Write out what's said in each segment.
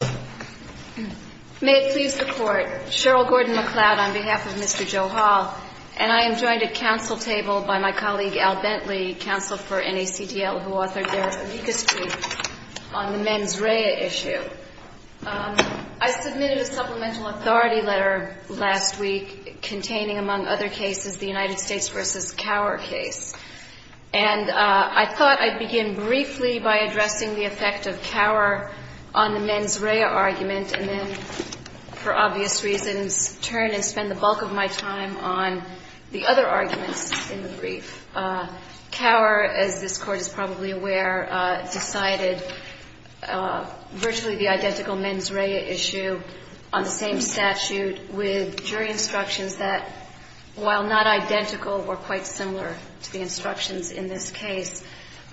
May it please the Court, Cheryl Gordon-McLeod on behalf of Mr. Johal, and I am joined at counsel table by my colleague Al Bentley, counsel for NACDL, who authored their legacy on the mens rea issue. I submitted a supplemental authority letter last week containing, among other cases, the United States v. Cower case, and I thought I'd begin briefly by addressing the effect of Cower on the mens rea argument, and then, for obvious reasons, turn and spend the bulk of my time on the other arguments in the brief. Cower, as this Court is probably aware, decided virtually the identical mens rea issue on the same statute with jury instructions that, while not identical, were quite similar to jury instructions in this case.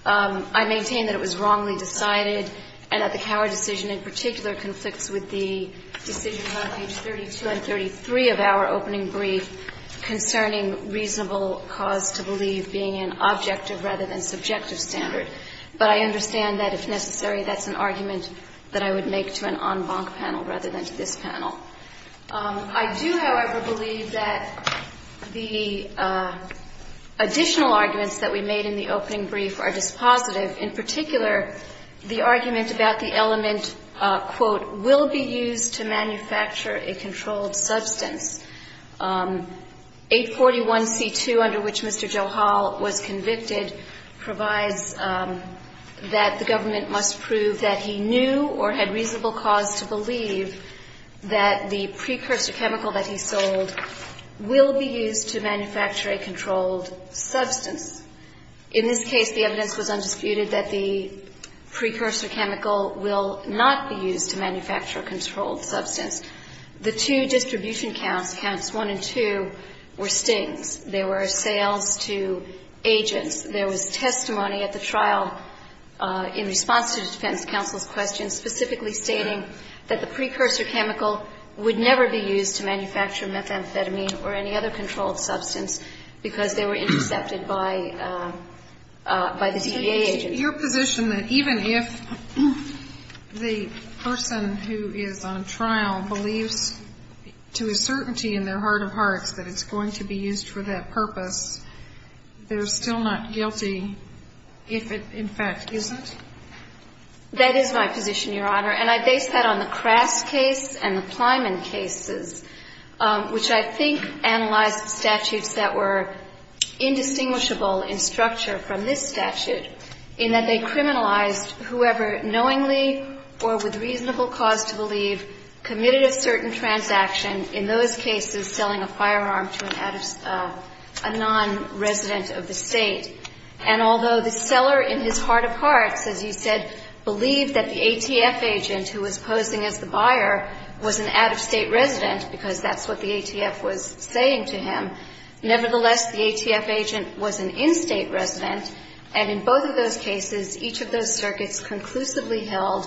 I maintain that it was wrongly decided, and that the Cower decision in particular conflicts with the decisions on page 32 and 33 of our opening brief concerning reasonable cause to believe being an objective rather than subjective standard. But I understand that, if necessary, that's an argument that I would make to an en banc panel rather than to this panel. I do, however, believe that the additional arguments that we made in the opening brief are dispositive. In particular, the argument about the element, quote, will be used to manufacture a controlled substance. 841c2, under which Mr. Joe Hall was convicted, provides that the government must prove that he knew or had reasonable cause to believe that the precursor chemical that he sold will be used to manufacture a controlled substance. In this case, the evidence was undisputed that the precursor chemical will not be used to manufacture a controlled substance. The two distribution counts, Counts 1 and 2, were stings. There were sales to agents. There was testimony at the trial in response to the defense counsel's questions specifically stating that the precursor chemical would never be used to manufacture methamphetamine or any other controlled substance because they were intercepted by the CBA agent. Your position that even if the person who is on trial believes to a certainty in their heart of hearts that it's going to be used for that purpose, they're still not guilty if it, in fact, isn't? That is my position, Your Honor. And I base that on the Crass case and the Plyman cases, which I think analyzed statutes that were indistinguishable in structure from this statute, in that they criminalized whoever knowingly or with reasonable cause to believe committed a certain transaction, in those cases selling a firearm to a nonresident of the State. And although the seller in his heart of hearts, as you said, believed that the ATF agent who was posing as the buyer was an out-of-State resident, because that's what the ATF was saying to him, nevertheless, the ATF agent was an in-State resident, and in both of those cases, each of those circuits conclusively held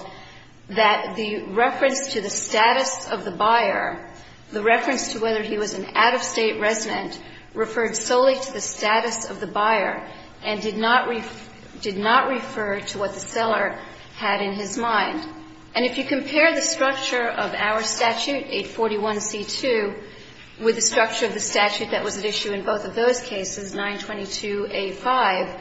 that the reference to the status of the buyer, the reference to whether he was an out-of-State resident, referred solely to the status of the buyer. And did not refer to what the seller had in his mind. And if you compare the structure of our statute, 841C2, with the structure of the statute that was at issue in both of those cases, 922A5,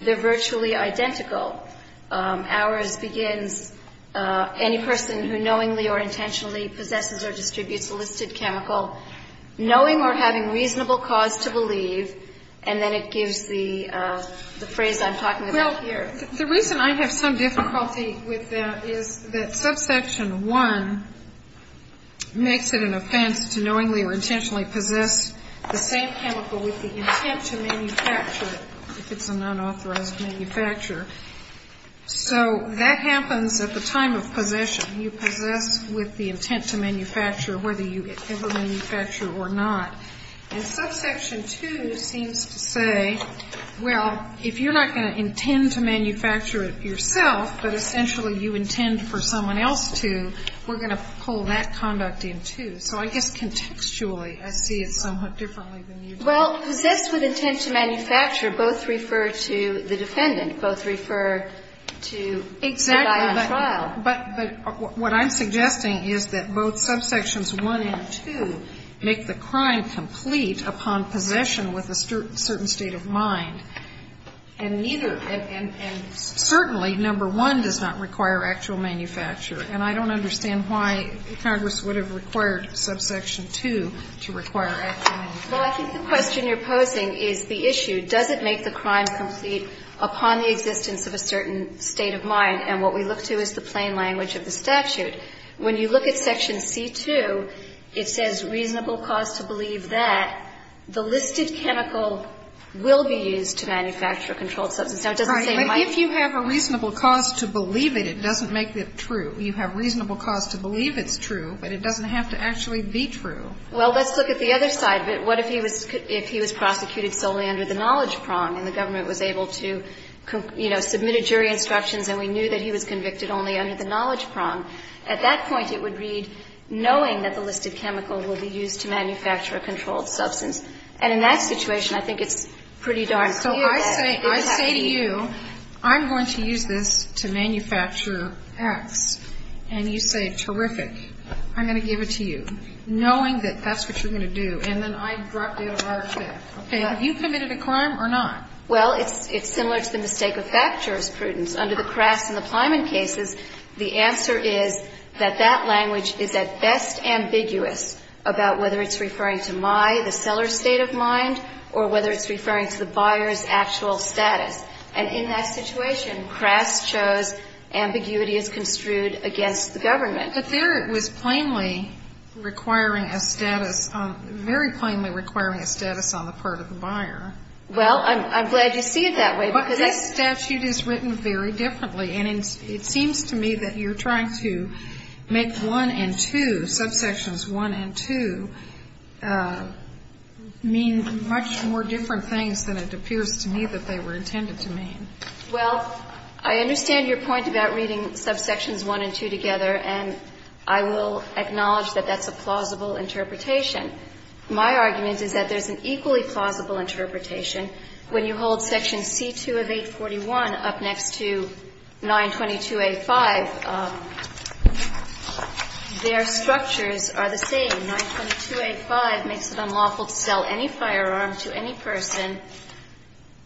they're virtually identical. Ours begins, any person who knowingly or intentionally possesses or distributes a listed chemical, knowing or having reasonable cause to believe, and then it gives the phrase I'm talking about here. Well, the reason I have some difficulty with that is that subsection 1 makes it an offense to knowingly or intentionally possess the same chemical with the intent to manufacture it, if it's an unauthorized manufacturer. So that happens at the time of possession. You possess with the intent to manufacture, whether you ever manufacture or not. And subsection 2 seems to say Well, if you're not going to intend to manufacture it yourself, but essentially you intend for someone else to, we're going to pull that conduct in, too. So I guess contextually I see it somewhat differently than you do. Well, possess with intent to manufacture both refer to the defendant. Both refer to the buyer on trial. Exactly. But what I'm suggesting is that both subsections 1 and 2 make the crime complete upon possession with a certain state of mind. And neither, and certainly number 1 does not require actual manufacture. And I don't understand why Congress would have required subsection 2 to require actual manufacture. Well, I think the question you're posing is the issue, does it make the crime complete upon the existence of a certain state of mind? And what we look to is the plain language of the statute. When you look at section C2, it says reasonable cause to believe that the listed chemical will be used to manufacture a controlled substance. Now, it doesn't say why. But if you have a reasonable cause to believe it, it doesn't make it true. You have reasonable cause to believe it's true, but it doesn't have to actually be true. Well, let's look at the other side of it. What if he was prosecuted solely under the knowledge prong and the government was able to, you know, submit a jury instructions and we knew that he was convicted only under the knowledge prong? At that point, it would read, knowing that the listed chemical will be used to manufacture a controlled substance. And in that situation, I think it's pretty darn clear that it would have to be. So I say to you, I'm going to use this to manufacture X. And you say, terrific. I'm going to give it to you, knowing that that's what you're going to do. And then I drop down a large step. Okay. Have you committed a crime or not? Well, it's similar to the mistake of fact jurisprudence. Under the Kras and the language is at best ambiguous about whether it's referring to my, the seller's state of mind, or whether it's referring to the buyer's actual status. And in that situation, Kras chose ambiguity is construed against the government. But there it was plainly requiring a status on, very plainly requiring a status on the part of the buyer. Well, I'm glad you see it that way. But this statute is written very differently. And it seems to me that you're trying to make 1 and 2, subsections 1 and 2, mean much more different things than it appears to me that they were intended to mean. Well, I understand your point about reading subsections 1 and 2 together. And I will acknowledge that that's a plausible interpretation. My argument is that there's an equally plausible interpretation when you hold section C2 of 841 up next to 922 A5. Their structures are the same. 922 A5 makes it unlawful to sell any firearm to any person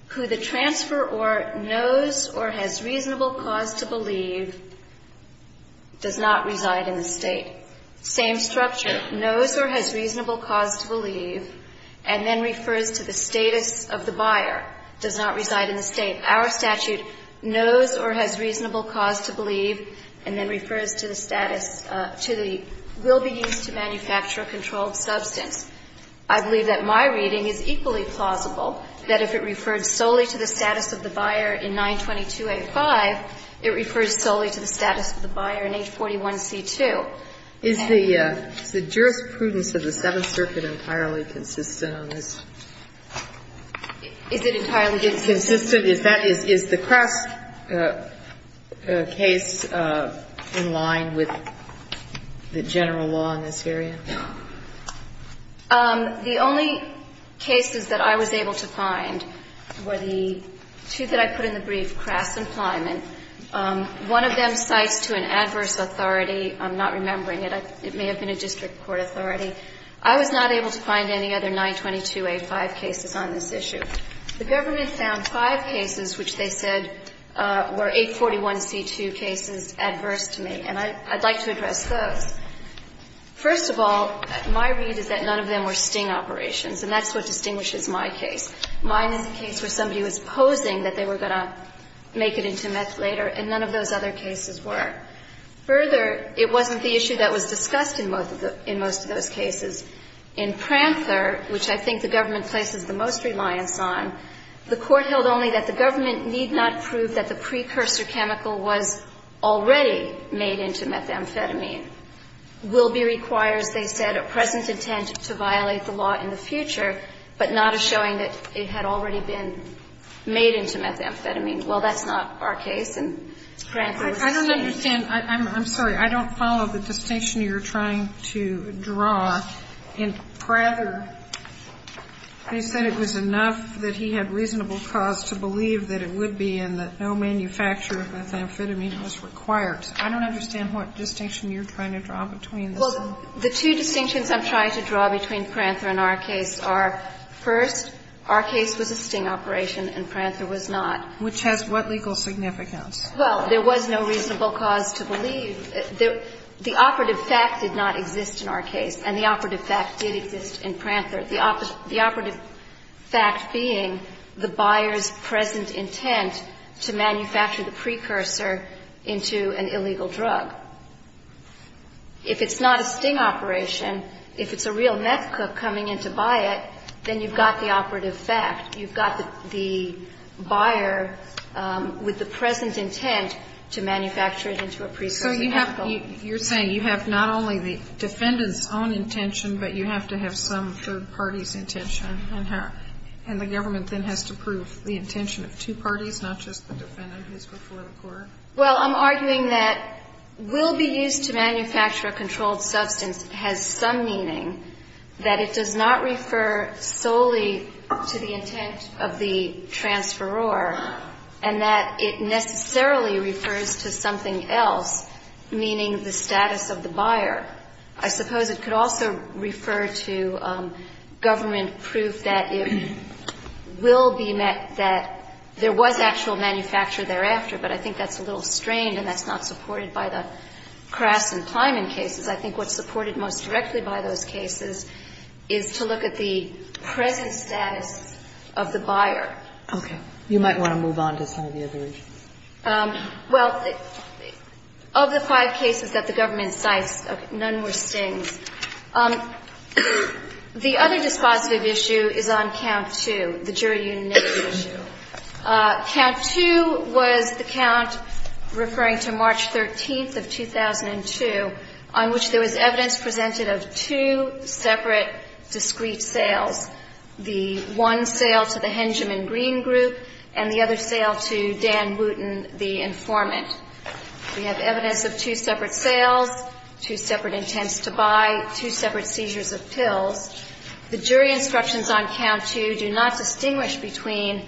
who the transferor knows or has reasonable cause to believe does not reside in the State. Same structure. Knows or has reasonable cause to believe, and then refers to the status of the buyer, does not reside in the State. Our statute knows or has reasonable cause to believe and then refers to the status to the will be used to manufacture a controlled substance. I believe that my reading is equally plausible, that if it refers solely to the status of the buyer in 922 A5, it refers solely to the status of the buyer in 841 C2. Is the jurisprudence of the Seventh Circuit entirely consistent on this? Is it entirely consistent? Is the Crest case in line with the general law in this area? The only cases that I was able to find were the two that I put in the brief, Crest and Flyman. One of them cites to an adverse authority. I'm not remembering it. It may have been a district court authority. I was not able to find any other 922 A5 cases on this issue. The government found five cases which they said were 841 C2 cases adverse to me, and I'd like to address those. First of all, my read is that none of them were sting operations, and that's what distinguishes my case. Mine is a case where somebody was posing that they were going to make it into meth later, and none of those other cases were. Further, it wasn't the issue that was discussed in most of those cases. In Pranther, which I think the government places the most reliance on, the Court held only that the government need not prove that the precursor chemical was already made into methamphetamine. Will be requires, they said, a present intent to violate the law in the future, but not a showing that it had already been made into methamphetamine. Well, that's not our case, and Pranther was saying that. I'm sorry. I don't follow the distinction you're trying to draw. In Pranther, they said it was enough that he had reasonable cause to believe that it would be, and that no manufacture of methamphetamine was required. I don't understand what distinction you're trying to draw between the two. Well, the two distinctions I'm trying to draw between Pranther and our case are, first, our case was a sting operation, and Pranther was not. Which has what legal significance? Well, there was no reasonable cause to believe. The operative fact did not exist in our case, and the operative fact did exist in Pranther. The operative fact being the buyer's present intent to manufacture the precursor into an illegal drug. If it's not a sting operation, if it's a real meth cook coming in to buy it, then you've got the operative fact. You've got the buyer with the present intent to manufacture it into a precursor. So you're saying you have not only the defendant's own intention, but you have to have some third party's intention, and the government then has to prove the intention of two parties, not just the defendant who's before the court? Well, I'm arguing that will be used to manufacture a controlled substance has some meaning, that it does not refer solely to the intent of the transferor, and that it necessarily refers to something else, meaning the status of the buyer. I suppose it could also refer to government proof that it will be met, that there was actual manufacture thereafter, but I think that's a little strained, and that's not supported by the Kras and Plyman cases. I think what's supported most directly by those cases is to look at the present status of the buyer. Okay. You might want to move on to some of the other issues. Well, of the five cases that the government cites, none were stings. The other dispositive issue is on count two, the jury unanimity issue. Count two was the count referring to March 13th of 2002, on which there was evidence presented of two separate discrete sales, the one sale to the Hengeman Green group and the other sale to Dan Wooten, the informant. We have evidence of two separate sales, two separate intents to buy, two separate seizures of pills. The jury instructions on count two do not distinguish between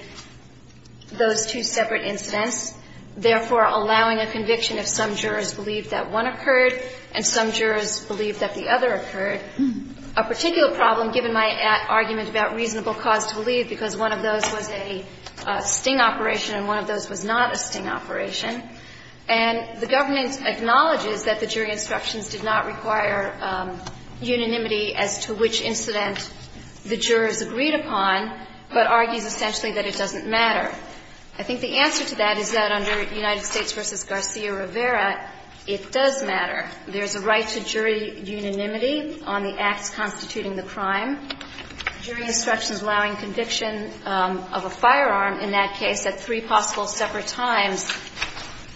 those two separate incidents, therefore allowing a conviction if some jurors believe that one occurred and some jurors believe that the other occurred. A particular problem, given my argument about reasonable cause to believe, because one of those was a sting operation and one of those was not a sting operation, and the government acknowledges that the jury instructions did not require unanimity as to which incident the jurors agreed upon, but argues essentially that it doesn't matter. I think the answer to that is that under United States v. Garcia Rivera, it does matter. There's a right to jury unanimity on the acts constituting the crime. Jury instructions allowing conviction of a firearm in that case at three possible separate times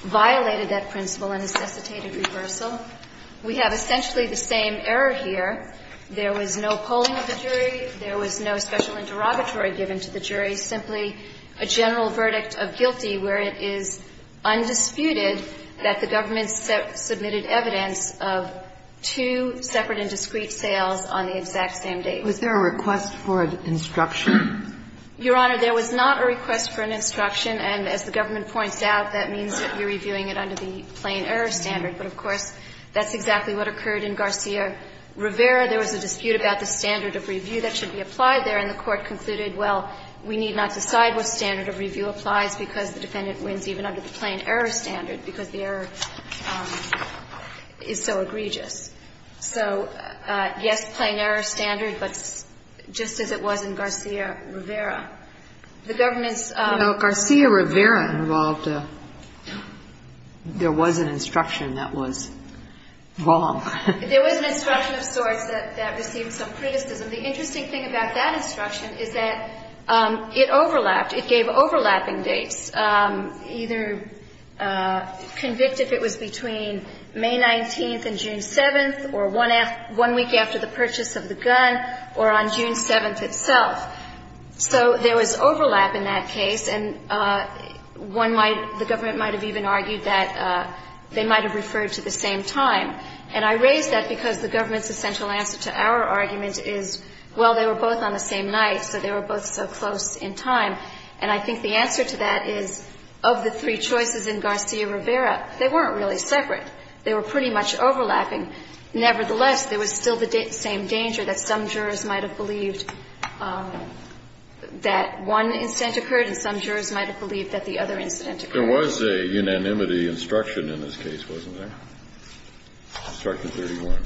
violated that principle and necessitated reversal. We have essentially the same error here. There was no polling of the jury. There was no special interrogatory given to the jury, simply a general verdict of guilty where it is undisputed that the government submitted evidence of two separate and discrete sales on the exact same date. Was there a request for an instruction? Your Honor, there was not a request for an instruction, and as the government points out, that means that we're reviewing it under the plain error standard. But, of course, that's exactly what occurred in Garcia Rivera. There was a dispute about the standard of review that should be applied there, and the Court concluded, well, we need not decide what standard of review applies because the defendant wins even under the plain error standard because the error is so egregious. So, yes, plain error standard, but just as it was in Garcia Rivera. The government's ---- Well, Garcia Rivera involved a ---- there was an instruction that was wrong. There was an instruction of sorts that received some criticism. The interesting thing about that instruction is that it overlapped. It gave overlapping dates, either convicted if it was between May 19th and June 7th or one week after the purchase of the gun or on June 7th itself. So there was overlap in that case, and one might ---- the government might have even argued that they might have referred to the same time. And I raise that because the government's essential answer to our argument is, well, they were both on the same night, so they were both so close in time. And I think the answer to that is, of the three choices in Garcia Rivera, they weren't really separate. They were pretty much overlapping. Nevertheless, there was still the same danger that some jurors might have believed that one incident occurred and some jurors might have believed that the other incident occurred. There was a unanimity instruction in this case, wasn't there? Instruction 31.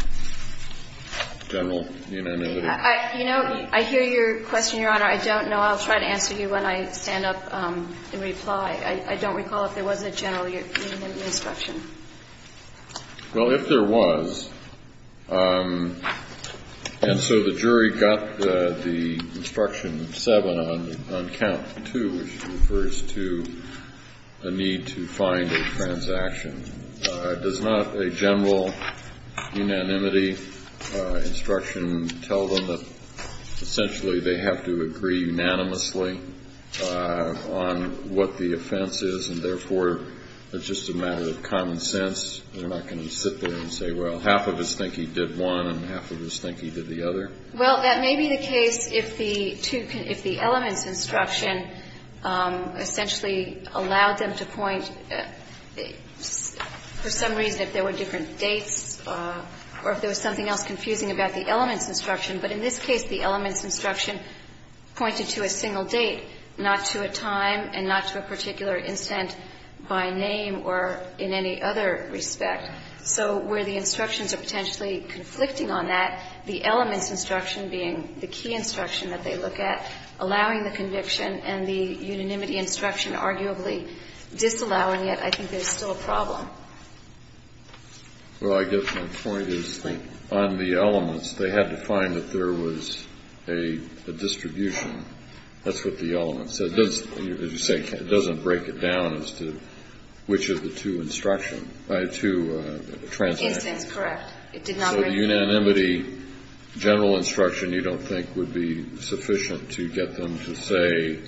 General unanimity. You know, I hear your question, Your Honor. I don't know. I'll try to answer you when I stand up and reply. I don't recall if there was a general unanimity instruction. Well, if there was, and so the jury got the instruction 7 on count 2, which refers to a need to find a transaction. Does not a general unanimity instruction tell them that essentially they have to agree unanimously on what the offense is, and therefore it's just a matter of common sense? They're not going to sit there and say, well, half of us think he did one and half of us think he did the other? Well, that may be the case if the elements instruction essentially allowed them to point, for some reason, if there were different dates or if there was something else confusing about the elements instruction. But in this case, the elements instruction pointed to a single date, not to a time and not to a particular incident by name or in any other respect. So where the instructions are potentially conflicting on that, the elements instruction being the key instruction that they look at, allowing the conviction and the unanimity instruction arguably disallowing it, I think there's still a problem. Well, I guess my point is on the elements, they had to find that there was a distribution. That's what the elements said. It doesn't, as you say, it doesn't break it down as to which of the two instructions by two translated. Incidents, correct. It did not break it down. So the unanimity general instruction you don't think would be sufficient to get them to say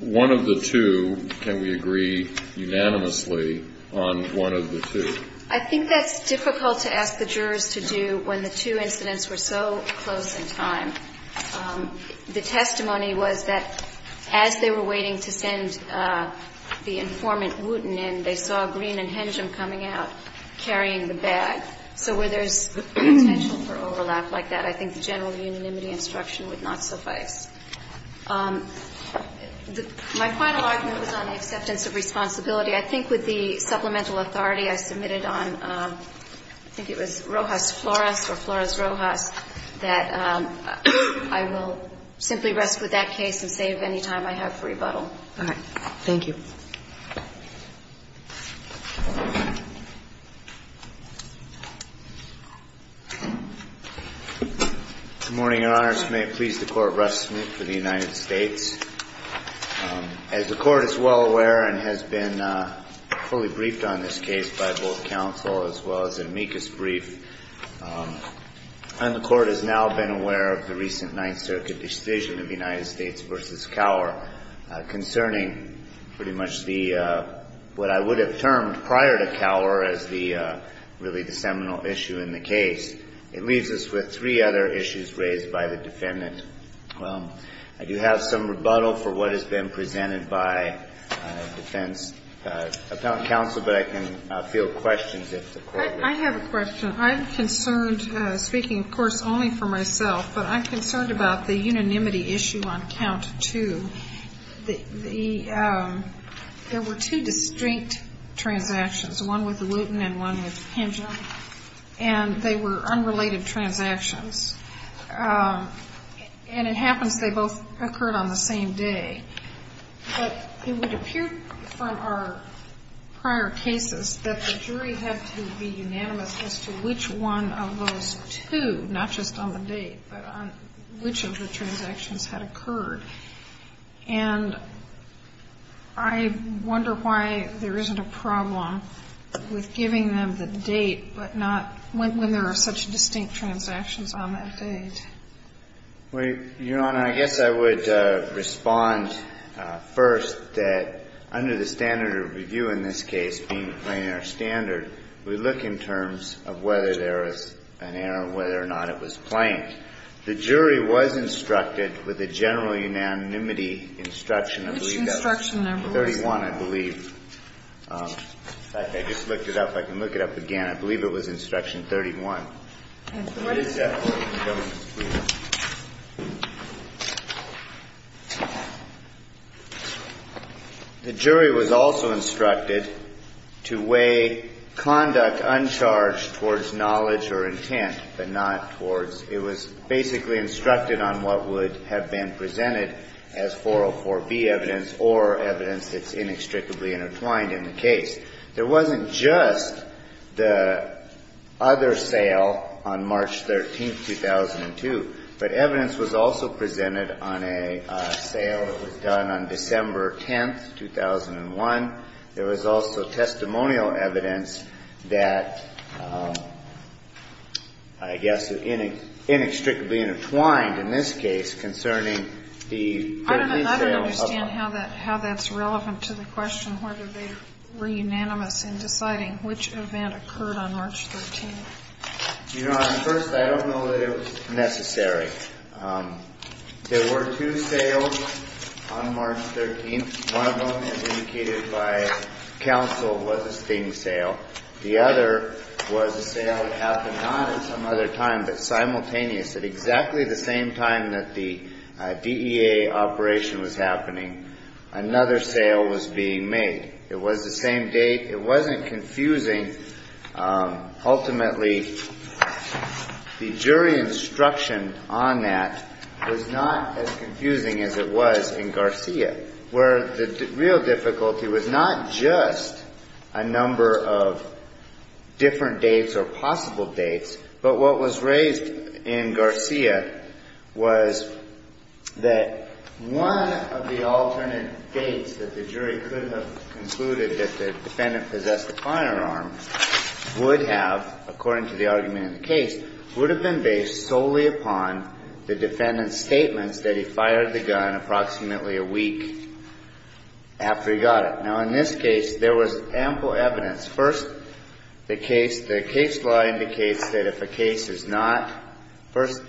one of the two, can we agree unanimously on one of the two? I think that's difficult to ask the jurors to do when the two incidents were so close in time. The testimony was that as they were waiting to send the informant Wooten in, they saw Green and Hengem coming out carrying the bag. So where there's potential for overlap like that, I think the general unanimity instruction would not suffice. My final argument was on the acceptance of responsibility. I think with the supplemental authority I submitted on, I think it was Rojas Flores or Flores Rojas, that I will simply rest with that case and save any time I have for rebuttal. All right. Thank you. Good morning, Your Honors. May it please the Court, Russ Smith for the United States. As the Court is well aware and has been fully briefed on this case by both counsel as well as an amicus brief, and the Court has now been aware of the recent Ninth Circuit decision of United States v. Cowher concerning pretty much what I would have termed prior to Cowher as really the seminal issue in the case. It leaves us with three other issues raised by the defendant. I do have some rebuttal for what has been presented by defense counsel, but I can field questions if the Court will. I have a question. I'm concerned, speaking, of course, only for myself, but I'm concerned about the unanimity issue on count two. There were two distinct transactions, one with Lewton and one with Henshaw, and they were unrelated transactions. And it happens they both occurred on the same day. But it would appear from our prior cases that the jury had to be unanimous as to which one of those two, not just on the date, but on which of the transactions had occurred. And I wonder why there isn't a problem with giving them the date but not when there are such distinct transactions on that date. Well, Your Honor, I guess I would respond first that under the standard of review in this case, being a plain error standard, we look in terms of whether there is an error, whether or not it was plain. The jury was instructed with a general unanimity instruction. Which instruction number was that? 31, I believe. I just looked it up. I can look it up again. I believe it was instruction 31. The jury was also instructed to weigh conduct uncharged towards knowledge or intent, but not towards – it was basically instructed on what would have been presented as 404B evidence or evidence that's inextricably intertwined in the case. But evidence was also presented on a sale that was done on December 10, 2001. There was also testimonial evidence that I guess inextricably intertwined in this case concerning the – I don't understand how that's relevant to the question whether they were unanimous in deciding which event occurred on March 13. Your Honor, first, I don't know that it was necessary. There were two sales on March 13. One of them, as indicated by counsel, was a sting sale. The other was a sale that happened not at some other time, but simultaneous at exactly the same time that the DEA operation was happening, another sale was being made. It was the same date. It wasn't confusing. Ultimately, the jury instruction on that was not as confusing as it was in Garcia, where the real difficulty was not just a number of different dates or possible dates, but what was raised in Garcia was that one of the alternate dates that the jury could have concluded that the defendant possessed a firearm would have, according to the argument in the case, would have been based solely upon the defendant's statements that he fired the gun approximately a week after he got it. Now, in this case, there was ample evidence. First, the case law indicates that if a case is not – first,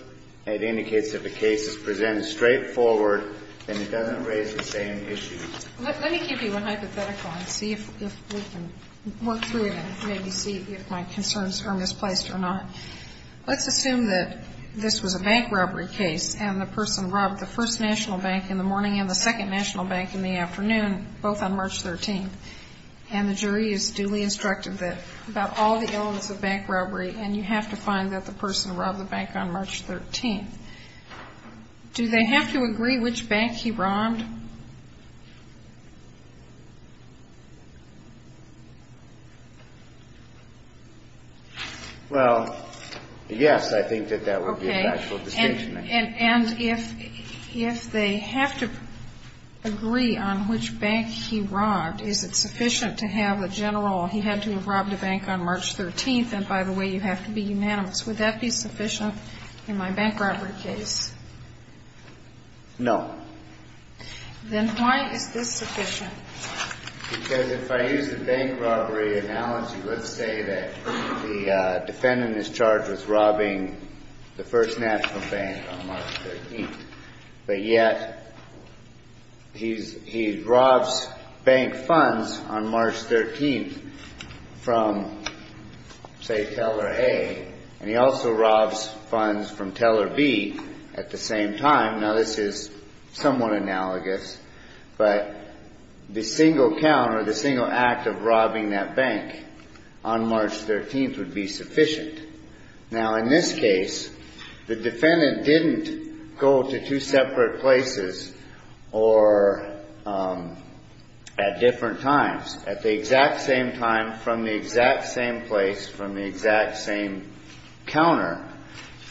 it indicates that if a case is presented straightforward, then it doesn't raise the same issue. Let me give you a hypothetical and see if we can work through it and maybe see if my concerns are misplaced or not. Let's assume that this was a bank robbery case, and the person robbed the first national bank in the morning and the second national bank in the afternoon, both on March 13. And the jury is duly instructed that about all the elements of bank robbery, do they have to agree which bank he robbed? Well, yes, I think that that would be an actual distinction. Okay. And if they have to agree on which bank he robbed, is it sufficient to have a general, he had to have robbed a bank on March 13, and by the way, you have to be unanimous. Would that be sufficient in my bank robbery case? No. Then why is this sufficient? Because if I use the bank robbery analogy, let's say that the defendant is charged with robbing the first national bank on March 13, but yet he robs bank funds on March 13 from, say, Teller A, and he also robs funds from Teller B at the same time. Now, this is somewhat analogous, but the single count or the single act of robbing that bank on March 13 would be sufficient. Now, in this case, the defendant didn't go to two separate places or at different times. At the exact same time, from the exact same place, from the exact same counter,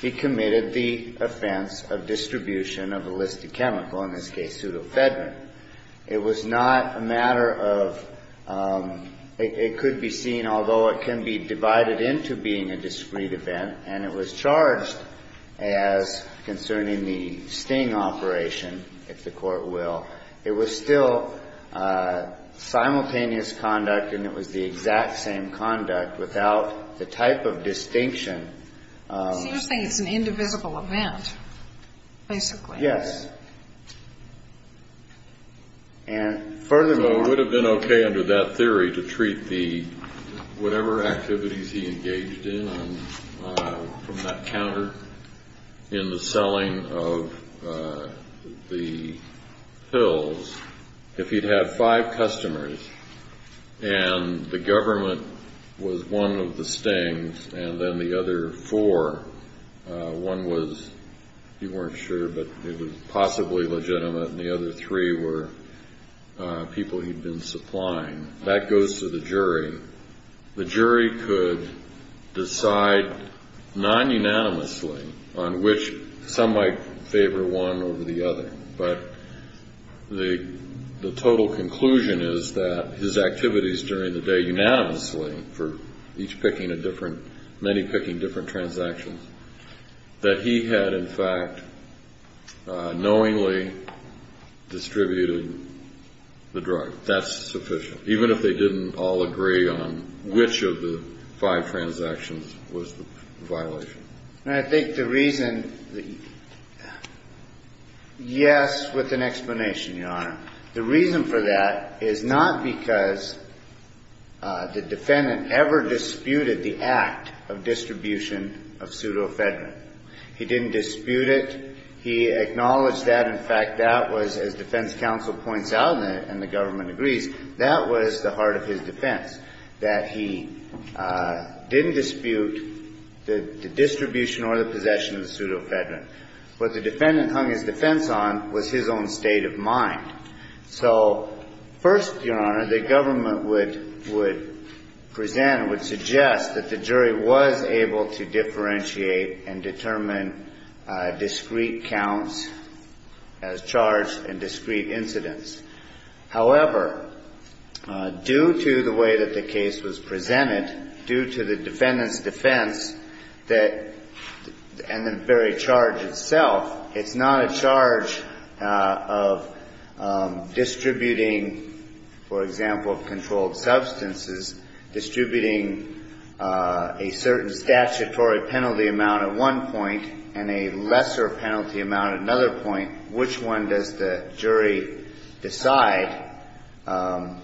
he committed the offense of distribution of a listed chemical, in this case, pseudo-Fedrin. It was not a matter of, it could be seen, although it can be divided into being a discrete event, and it was charged as concerning the sting operation, if the Court will. It was still simultaneous conduct, and it was the exact same conduct without the type of distinction. So you're saying it's an indivisible event, basically. Yes. And furthermore... So it would have been okay under that theory to treat the, whatever activities he engaged in from that counter, in the selling of the pills, if he'd had five customers, and the government was one of the stings, and then the other four, one was, you weren't sure, but it was possibly legitimate, and the other three were people he'd been supplying. That goes to the jury. The jury could decide, non-unanimously, on which, some might favor one over the other, but the total conclusion is that his activities during the day, unanimously, for each picking a different, many picking different transactions, that he had, in fact, knowingly distributed the drug. That's sufficient. Even if they didn't all agree on which of the five transactions was the violation. I think the reason, yes, with an explanation, Your Honor. The reason for that is not because the defendant ever disputed the act of distribution of pseudoephedrine. He didn't dispute it. He acknowledged that, in fact, that was, as defense counsel points out, and the government agrees, that was the heart of his defense, that he didn't dispute the distribution or the possession of pseudoephedrine. What the defendant hung his defense on was his own state of mind. So, first, Your Honor, the government would present, would suggest that the jury was able to differentiate and determine discrete counts as charged and discrete incidents. However, due to the way that the case was presented, due to the defendant's defense, and the very charge itself, it's not a charge of distributing, for example, controlled substances, distributing a certain statutory penalty amount at one point and a lesser penalty amount at another point. Which one does the jury decide? I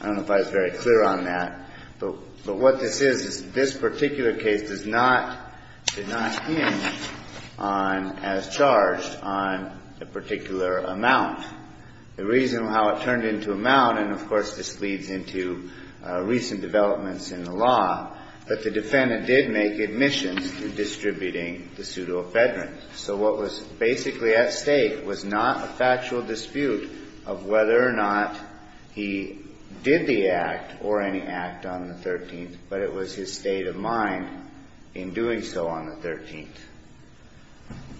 don't know if I was very clear on that, but what this is, this particular case did not hinge as charged on a particular amount. The reason how it turned into amount, and, of course, this leads into recent developments in the law, that the defendant did make admissions to distributing the pseudoephedrine. So what was basically at stake was not a factual dispute of whether or not he did the act or any act on the 13th, but it was his state of mind in doing so on the 13th.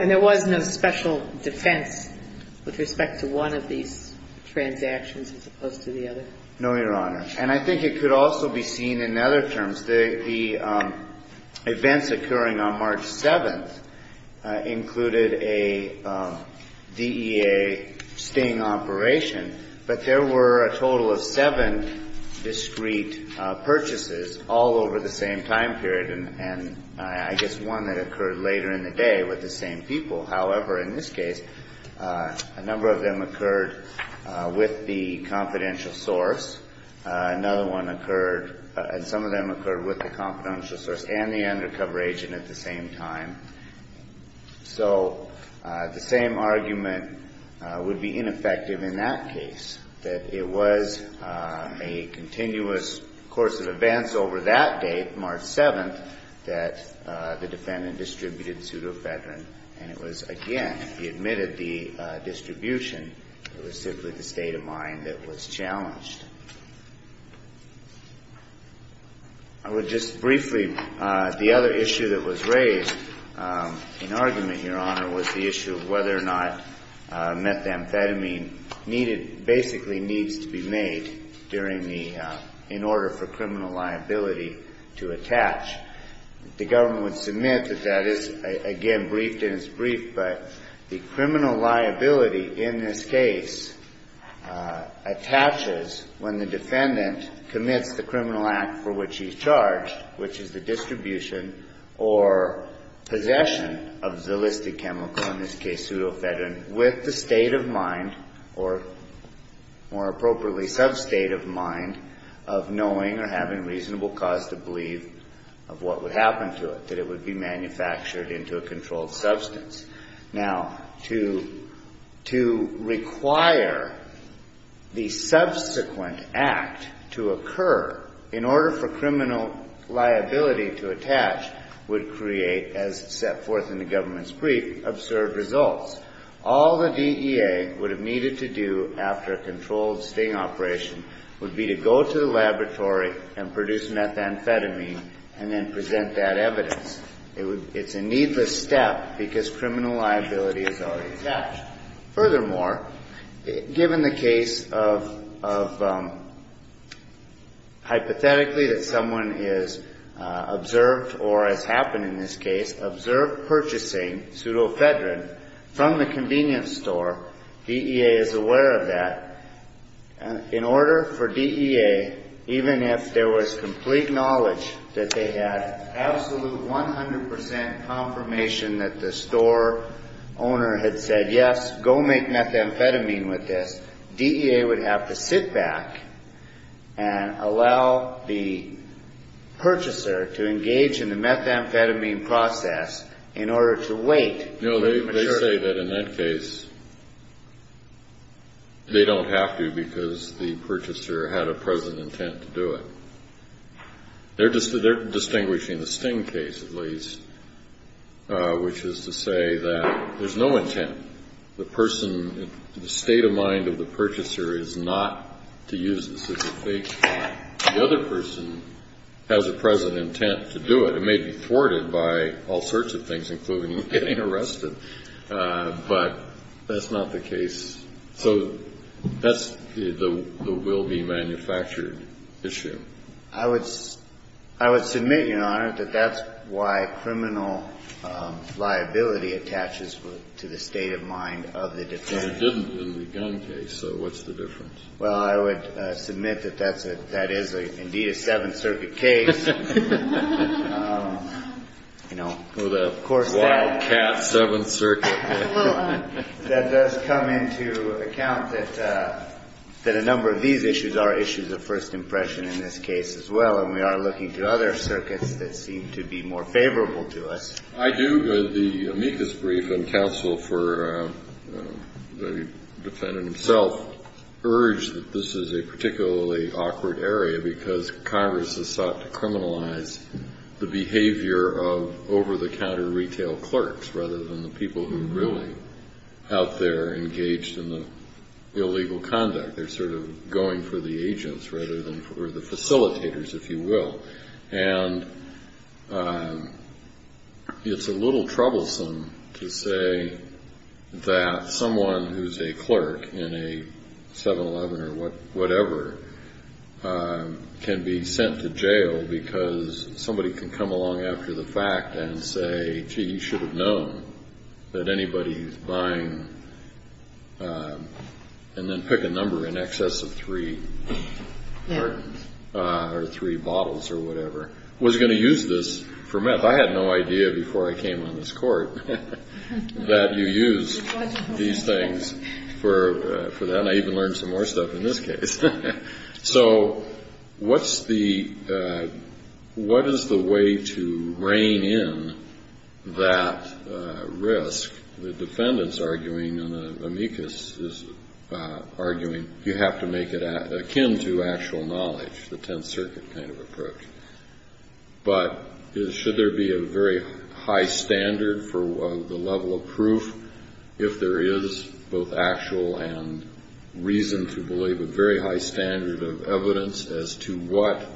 And there was no special defense with respect to one of these transactions as opposed to the other? No, Your Honor. And I think it could also be seen in other terms. The events occurring on March 7th included a DEA sting operation, but there were a total of seven discrete purchases all over the same time period, and I guess one that occurred later in the day with the same people. However, in this case, a number of them occurred with the confidential source. Another one occurred, and some of them occurred with the confidential source and the undercover agent at the same time. So the same argument would be ineffective in that case, that it was a continuous course of events over that day, March 7th, that the defendant distributed pseudoephedrine, and it was, again, he admitted the distribution. It was simply the state of mind that was challenged. I would just briefly, the other issue that was raised in argument, Your Honor, was the issue of whether or not the amphetamine needed, basically needs to be made during the, in order for criminal liability to attach. The government would submit that that is, again, briefed and it's briefed, but the criminal liability in this case attaches when the defendant commits the criminal act for which he's charged, which is the distribution or possession of the listed chemical, in this case, pseudoephedrine, with the state of mind, or more appropriately, sub-state of mind of knowing or having reasonable cause to believe of what would happen to it, that it would be manufactured into a controlled substance. Now, to require the subsequent act to occur in order for the government's brief to observe results, all the DEA would have needed to do after a controlled sting operation would be to go to the laboratory and produce methamphetamine and then present that evidence. It's a needless step because criminal liability is already attached. Furthermore, given the case of, hypothetically, that someone is observed or has happened in this case, observed purchasing pseudoephedrine from the convenience store, DEA is aware of that. In order for DEA, even if there was complete knowledge that they had absolute 100% confirmation that the store owner had said, yes, go make methamphetamine with this, DEA would have to sit back and allow the purchaser to engage in the methamphetamine process in order to wait for it to mature. No, they say that in that case, they don't have to because the purchaser had a present intent to do it. They're distinguishing the sting case, at least, which is to say that there's no intent. The state of mind of the purchaser is not to use this as a fake. The other person has a present intent to do it. It may be thwarted by all sorts of things, including getting arrested. But that's not the case. So that's the will-be-manufactured issue. I would submit, Your Honor, that that's why criminal liability attaches to the state of mind of the defendant. But it didn't in the gun case, so what's the difference? Well, I would submit that that is, indeed, a Seventh Circuit case. Well, the wildcat Seventh Circuit. That does come into account that a number of these issues are issues of first impression in this case as well. And we are looking to other circuits that seem to be more favorable to us. I do. The amicus brief and counsel for the defendant himself urge that this is a particularly awkward area because Congress has sought to criminalize the behavior of over-the-counter retail clerks rather than the people who are really out there engaged in the illegal conduct. They're sort of going for the agents rather than for the facilitators, if you will. And it's a little troublesome to say that someone who's a clerk in a 7-Eleven or whatever can be sent to jail because somebody can come along after the fact and say, gee, you should have known that anybody who's buying and then pick a number in excess of three or three bottles or whatever was going to use this for meth. I had no idea before I came on this Court that you use these things for that. And I even learned some more stuff in this case. So what is the way to rein in that risk? The defendant's arguing, and the amicus is arguing, you have to make it akin to actual knowledge, the Tenth Circuit kind of approach. But should there be a very high standard for the level of proof if there is both actual and reason to believe a very high standard of evidence as to what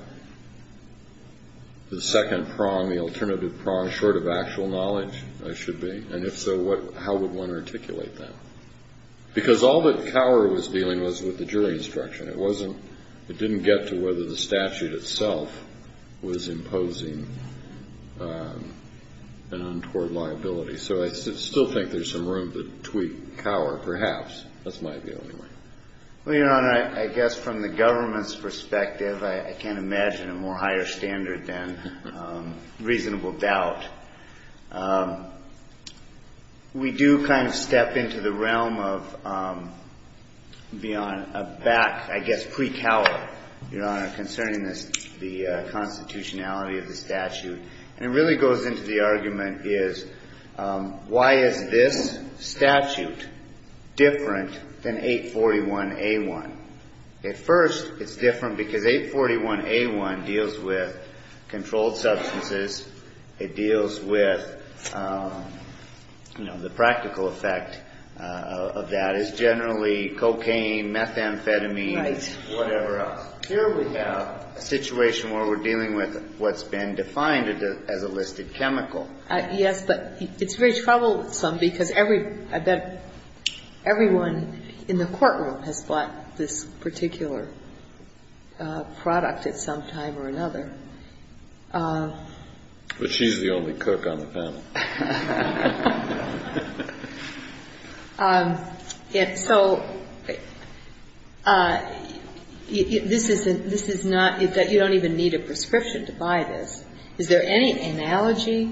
the second prong, the alternative prong, short of actual knowledge should be? And if so, how would one articulate that? Because all that Cower was dealing with was the jury instruction. It didn't get to whether the statute itself was imposing an untoward liability. So I still think there's some room to tweak Cower, perhaps. That's my view anyway. Well, Your Honor, I guess from the government's perspective, I can't imagine a more higher standard than reasonable doubt. We do kind of step into the realm of a back, I guess, pre-Cower, Your Honor, concerning the constitutionality of the statute. And it really goes into the argument is why is this statute different than 841A1? At first, it's different because 841A1 deals with controlled substances. It deals with, you know, the practical effect of that as generally cocaine, methamphetamine, whatever else. Here we have a situation where we're dealing with what's been defined as a listed chemical. Yes, but it's very troublesome because everyone in the courtroom has bought this particular product But she's the only cook on the panel. So, this is not that you don't even need a prescription to buy this. Is there any analogy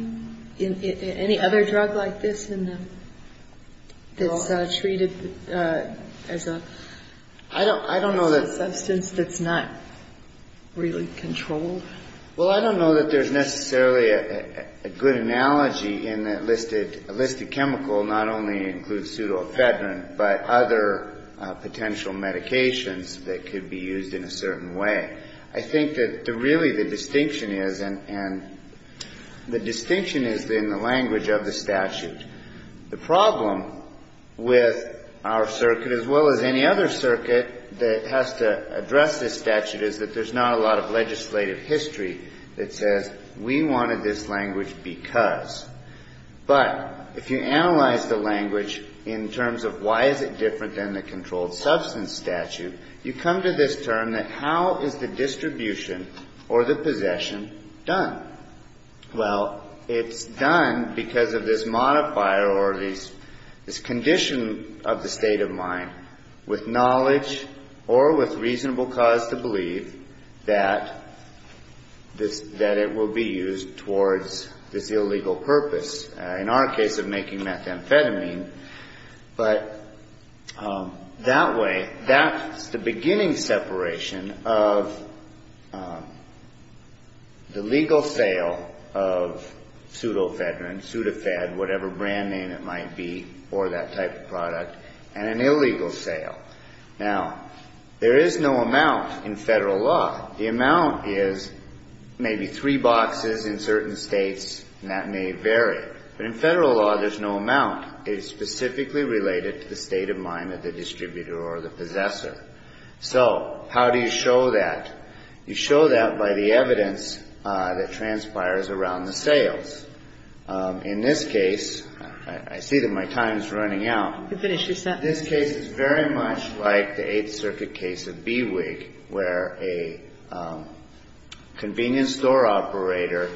in any other drug like this that's treated as a substance that's not really controlled? Well, I don't know that there's necessarily a good analogy in that a listed chemical not only includes pseudoephedrine but other potential medications that could be used in a certain way. I think that really the distinction is in the language of the statute. The problem with our circuit as well as any other circuit that has to address this statute is that there's not a lot of legislative history that says we wanted this language because. But, if you analyze the language in terms of why is it different than the controlled substance statute you come to this term that how is the distribution or the possession done? Well, it's done because of this modifier or this condition of the state of mind with knowledge or with reasonable cause to believe that it will be used towards this illegal purpose. In our case of making methamphetamine but that way, that's the beginning separation of the legal sale of pseudoephedrine, pseudoephed, whatever brand name it might be or that type of product, and an illegal sale. Now, there is no amount in federal law. The amount is maybe three boxes in certain states and that may vary. But in federal law, there's no amount. It is specifically related to the state of mind of the distributor or the possessor. So, how do you show that? You show that by the evidence that transpires around the sales. In this case, I see that my time is running out. This case is very much like the 8th Circuit case of BWIG where a convenience store operator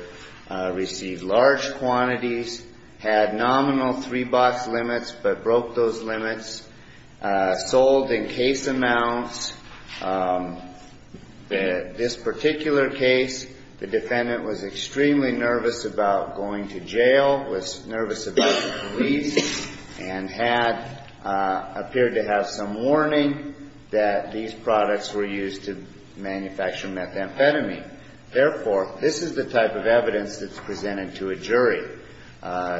received large quantities, had nominal three box limits but broke those limits, sold in case amounts. This particular case the defendant was extremely nervous about going to jail, was nervous about the police and had, appeared to have some warning that these products were used to manufacture methamphetamine. Therefore, this is the type of evidence that's presented to a jury.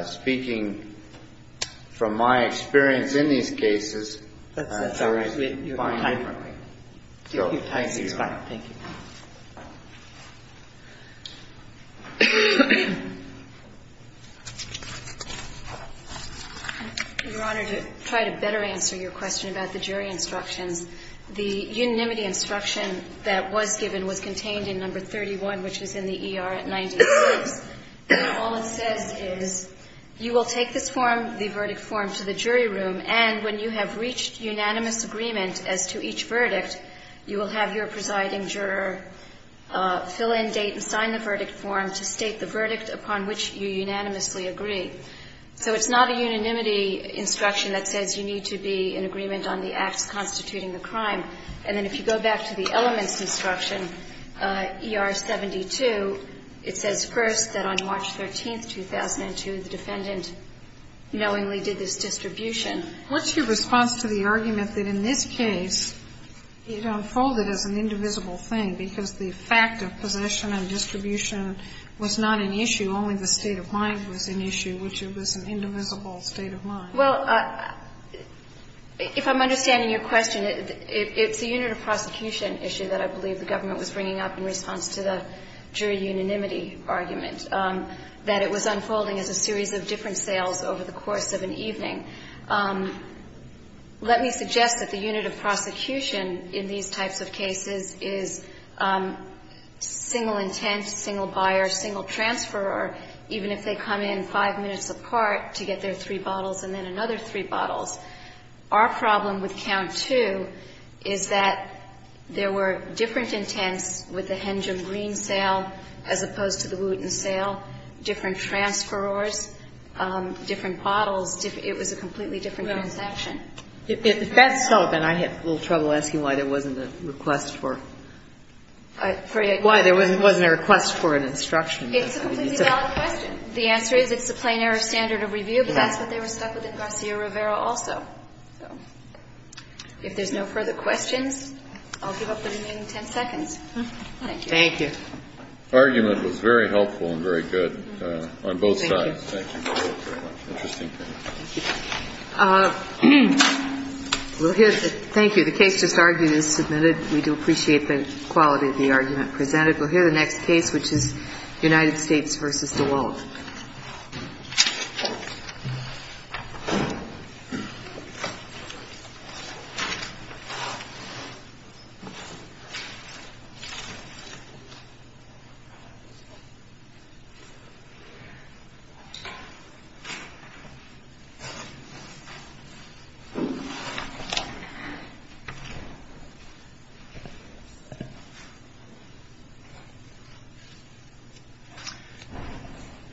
Speaking from my experience in these cases, that's fine. Thank you. Your Honor, to try to better answer your question about the jury instructions, the unanimity instruction that was given was contained in number 31, which is in the ER at 96. All it says is you will take this form, the verdict form, to the jury room and when you have reached unanimous agreement as to each verdict, you will have your presiding juror fill in, date and sign the verdict form to state the verdict upon which you unanimously agree. So it's not a unanimity instruction that says you need to be in agreement on the acts constituting the crime. And then if you go back to the elements instruction ER 72, it says first that on March 13, 2002 the defendant knowingly did this distribution. What's your response to the argument that in this case it unfolded as an indivisible thing because the fact of possession and distribution was not an issue, only the state of mind was an issue which it was an indivisible state of mind? Well, if I'm understanding your question, it's the unit of prosecution issue that I believe the government was bringing up in response to the jury unanimity argument, that it was unfolding as a series of different sales over the course of an evening. Let me suggest that the unit of prosecution in these types of cases is single intent, single buyer, single transferor even if they come in five minutes apart to get their three bottles and then another three bottles. Our problem with count two is that there were different intents with the Hengem green sale as opposed to the Wooten sale with different transferors, different bottles it was a completely different transaction. If that's so, then I had a little trouble asking why there wasn't a request for an instruction. It's a completely valid question. The answer is it's a plain error standard of review but that's what they were stuck with in Garcia Rivera also. If there's no further questions I'll give up the remaining ten seconds. Thank you. The argument was very helpful and very good on both sides. Thank you. Thank you. The case just argued is submitted. We do appreciate the quality of the argument presented. We'll hear the next case which is United States v. DeWalt.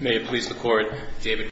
May it please the Court. David.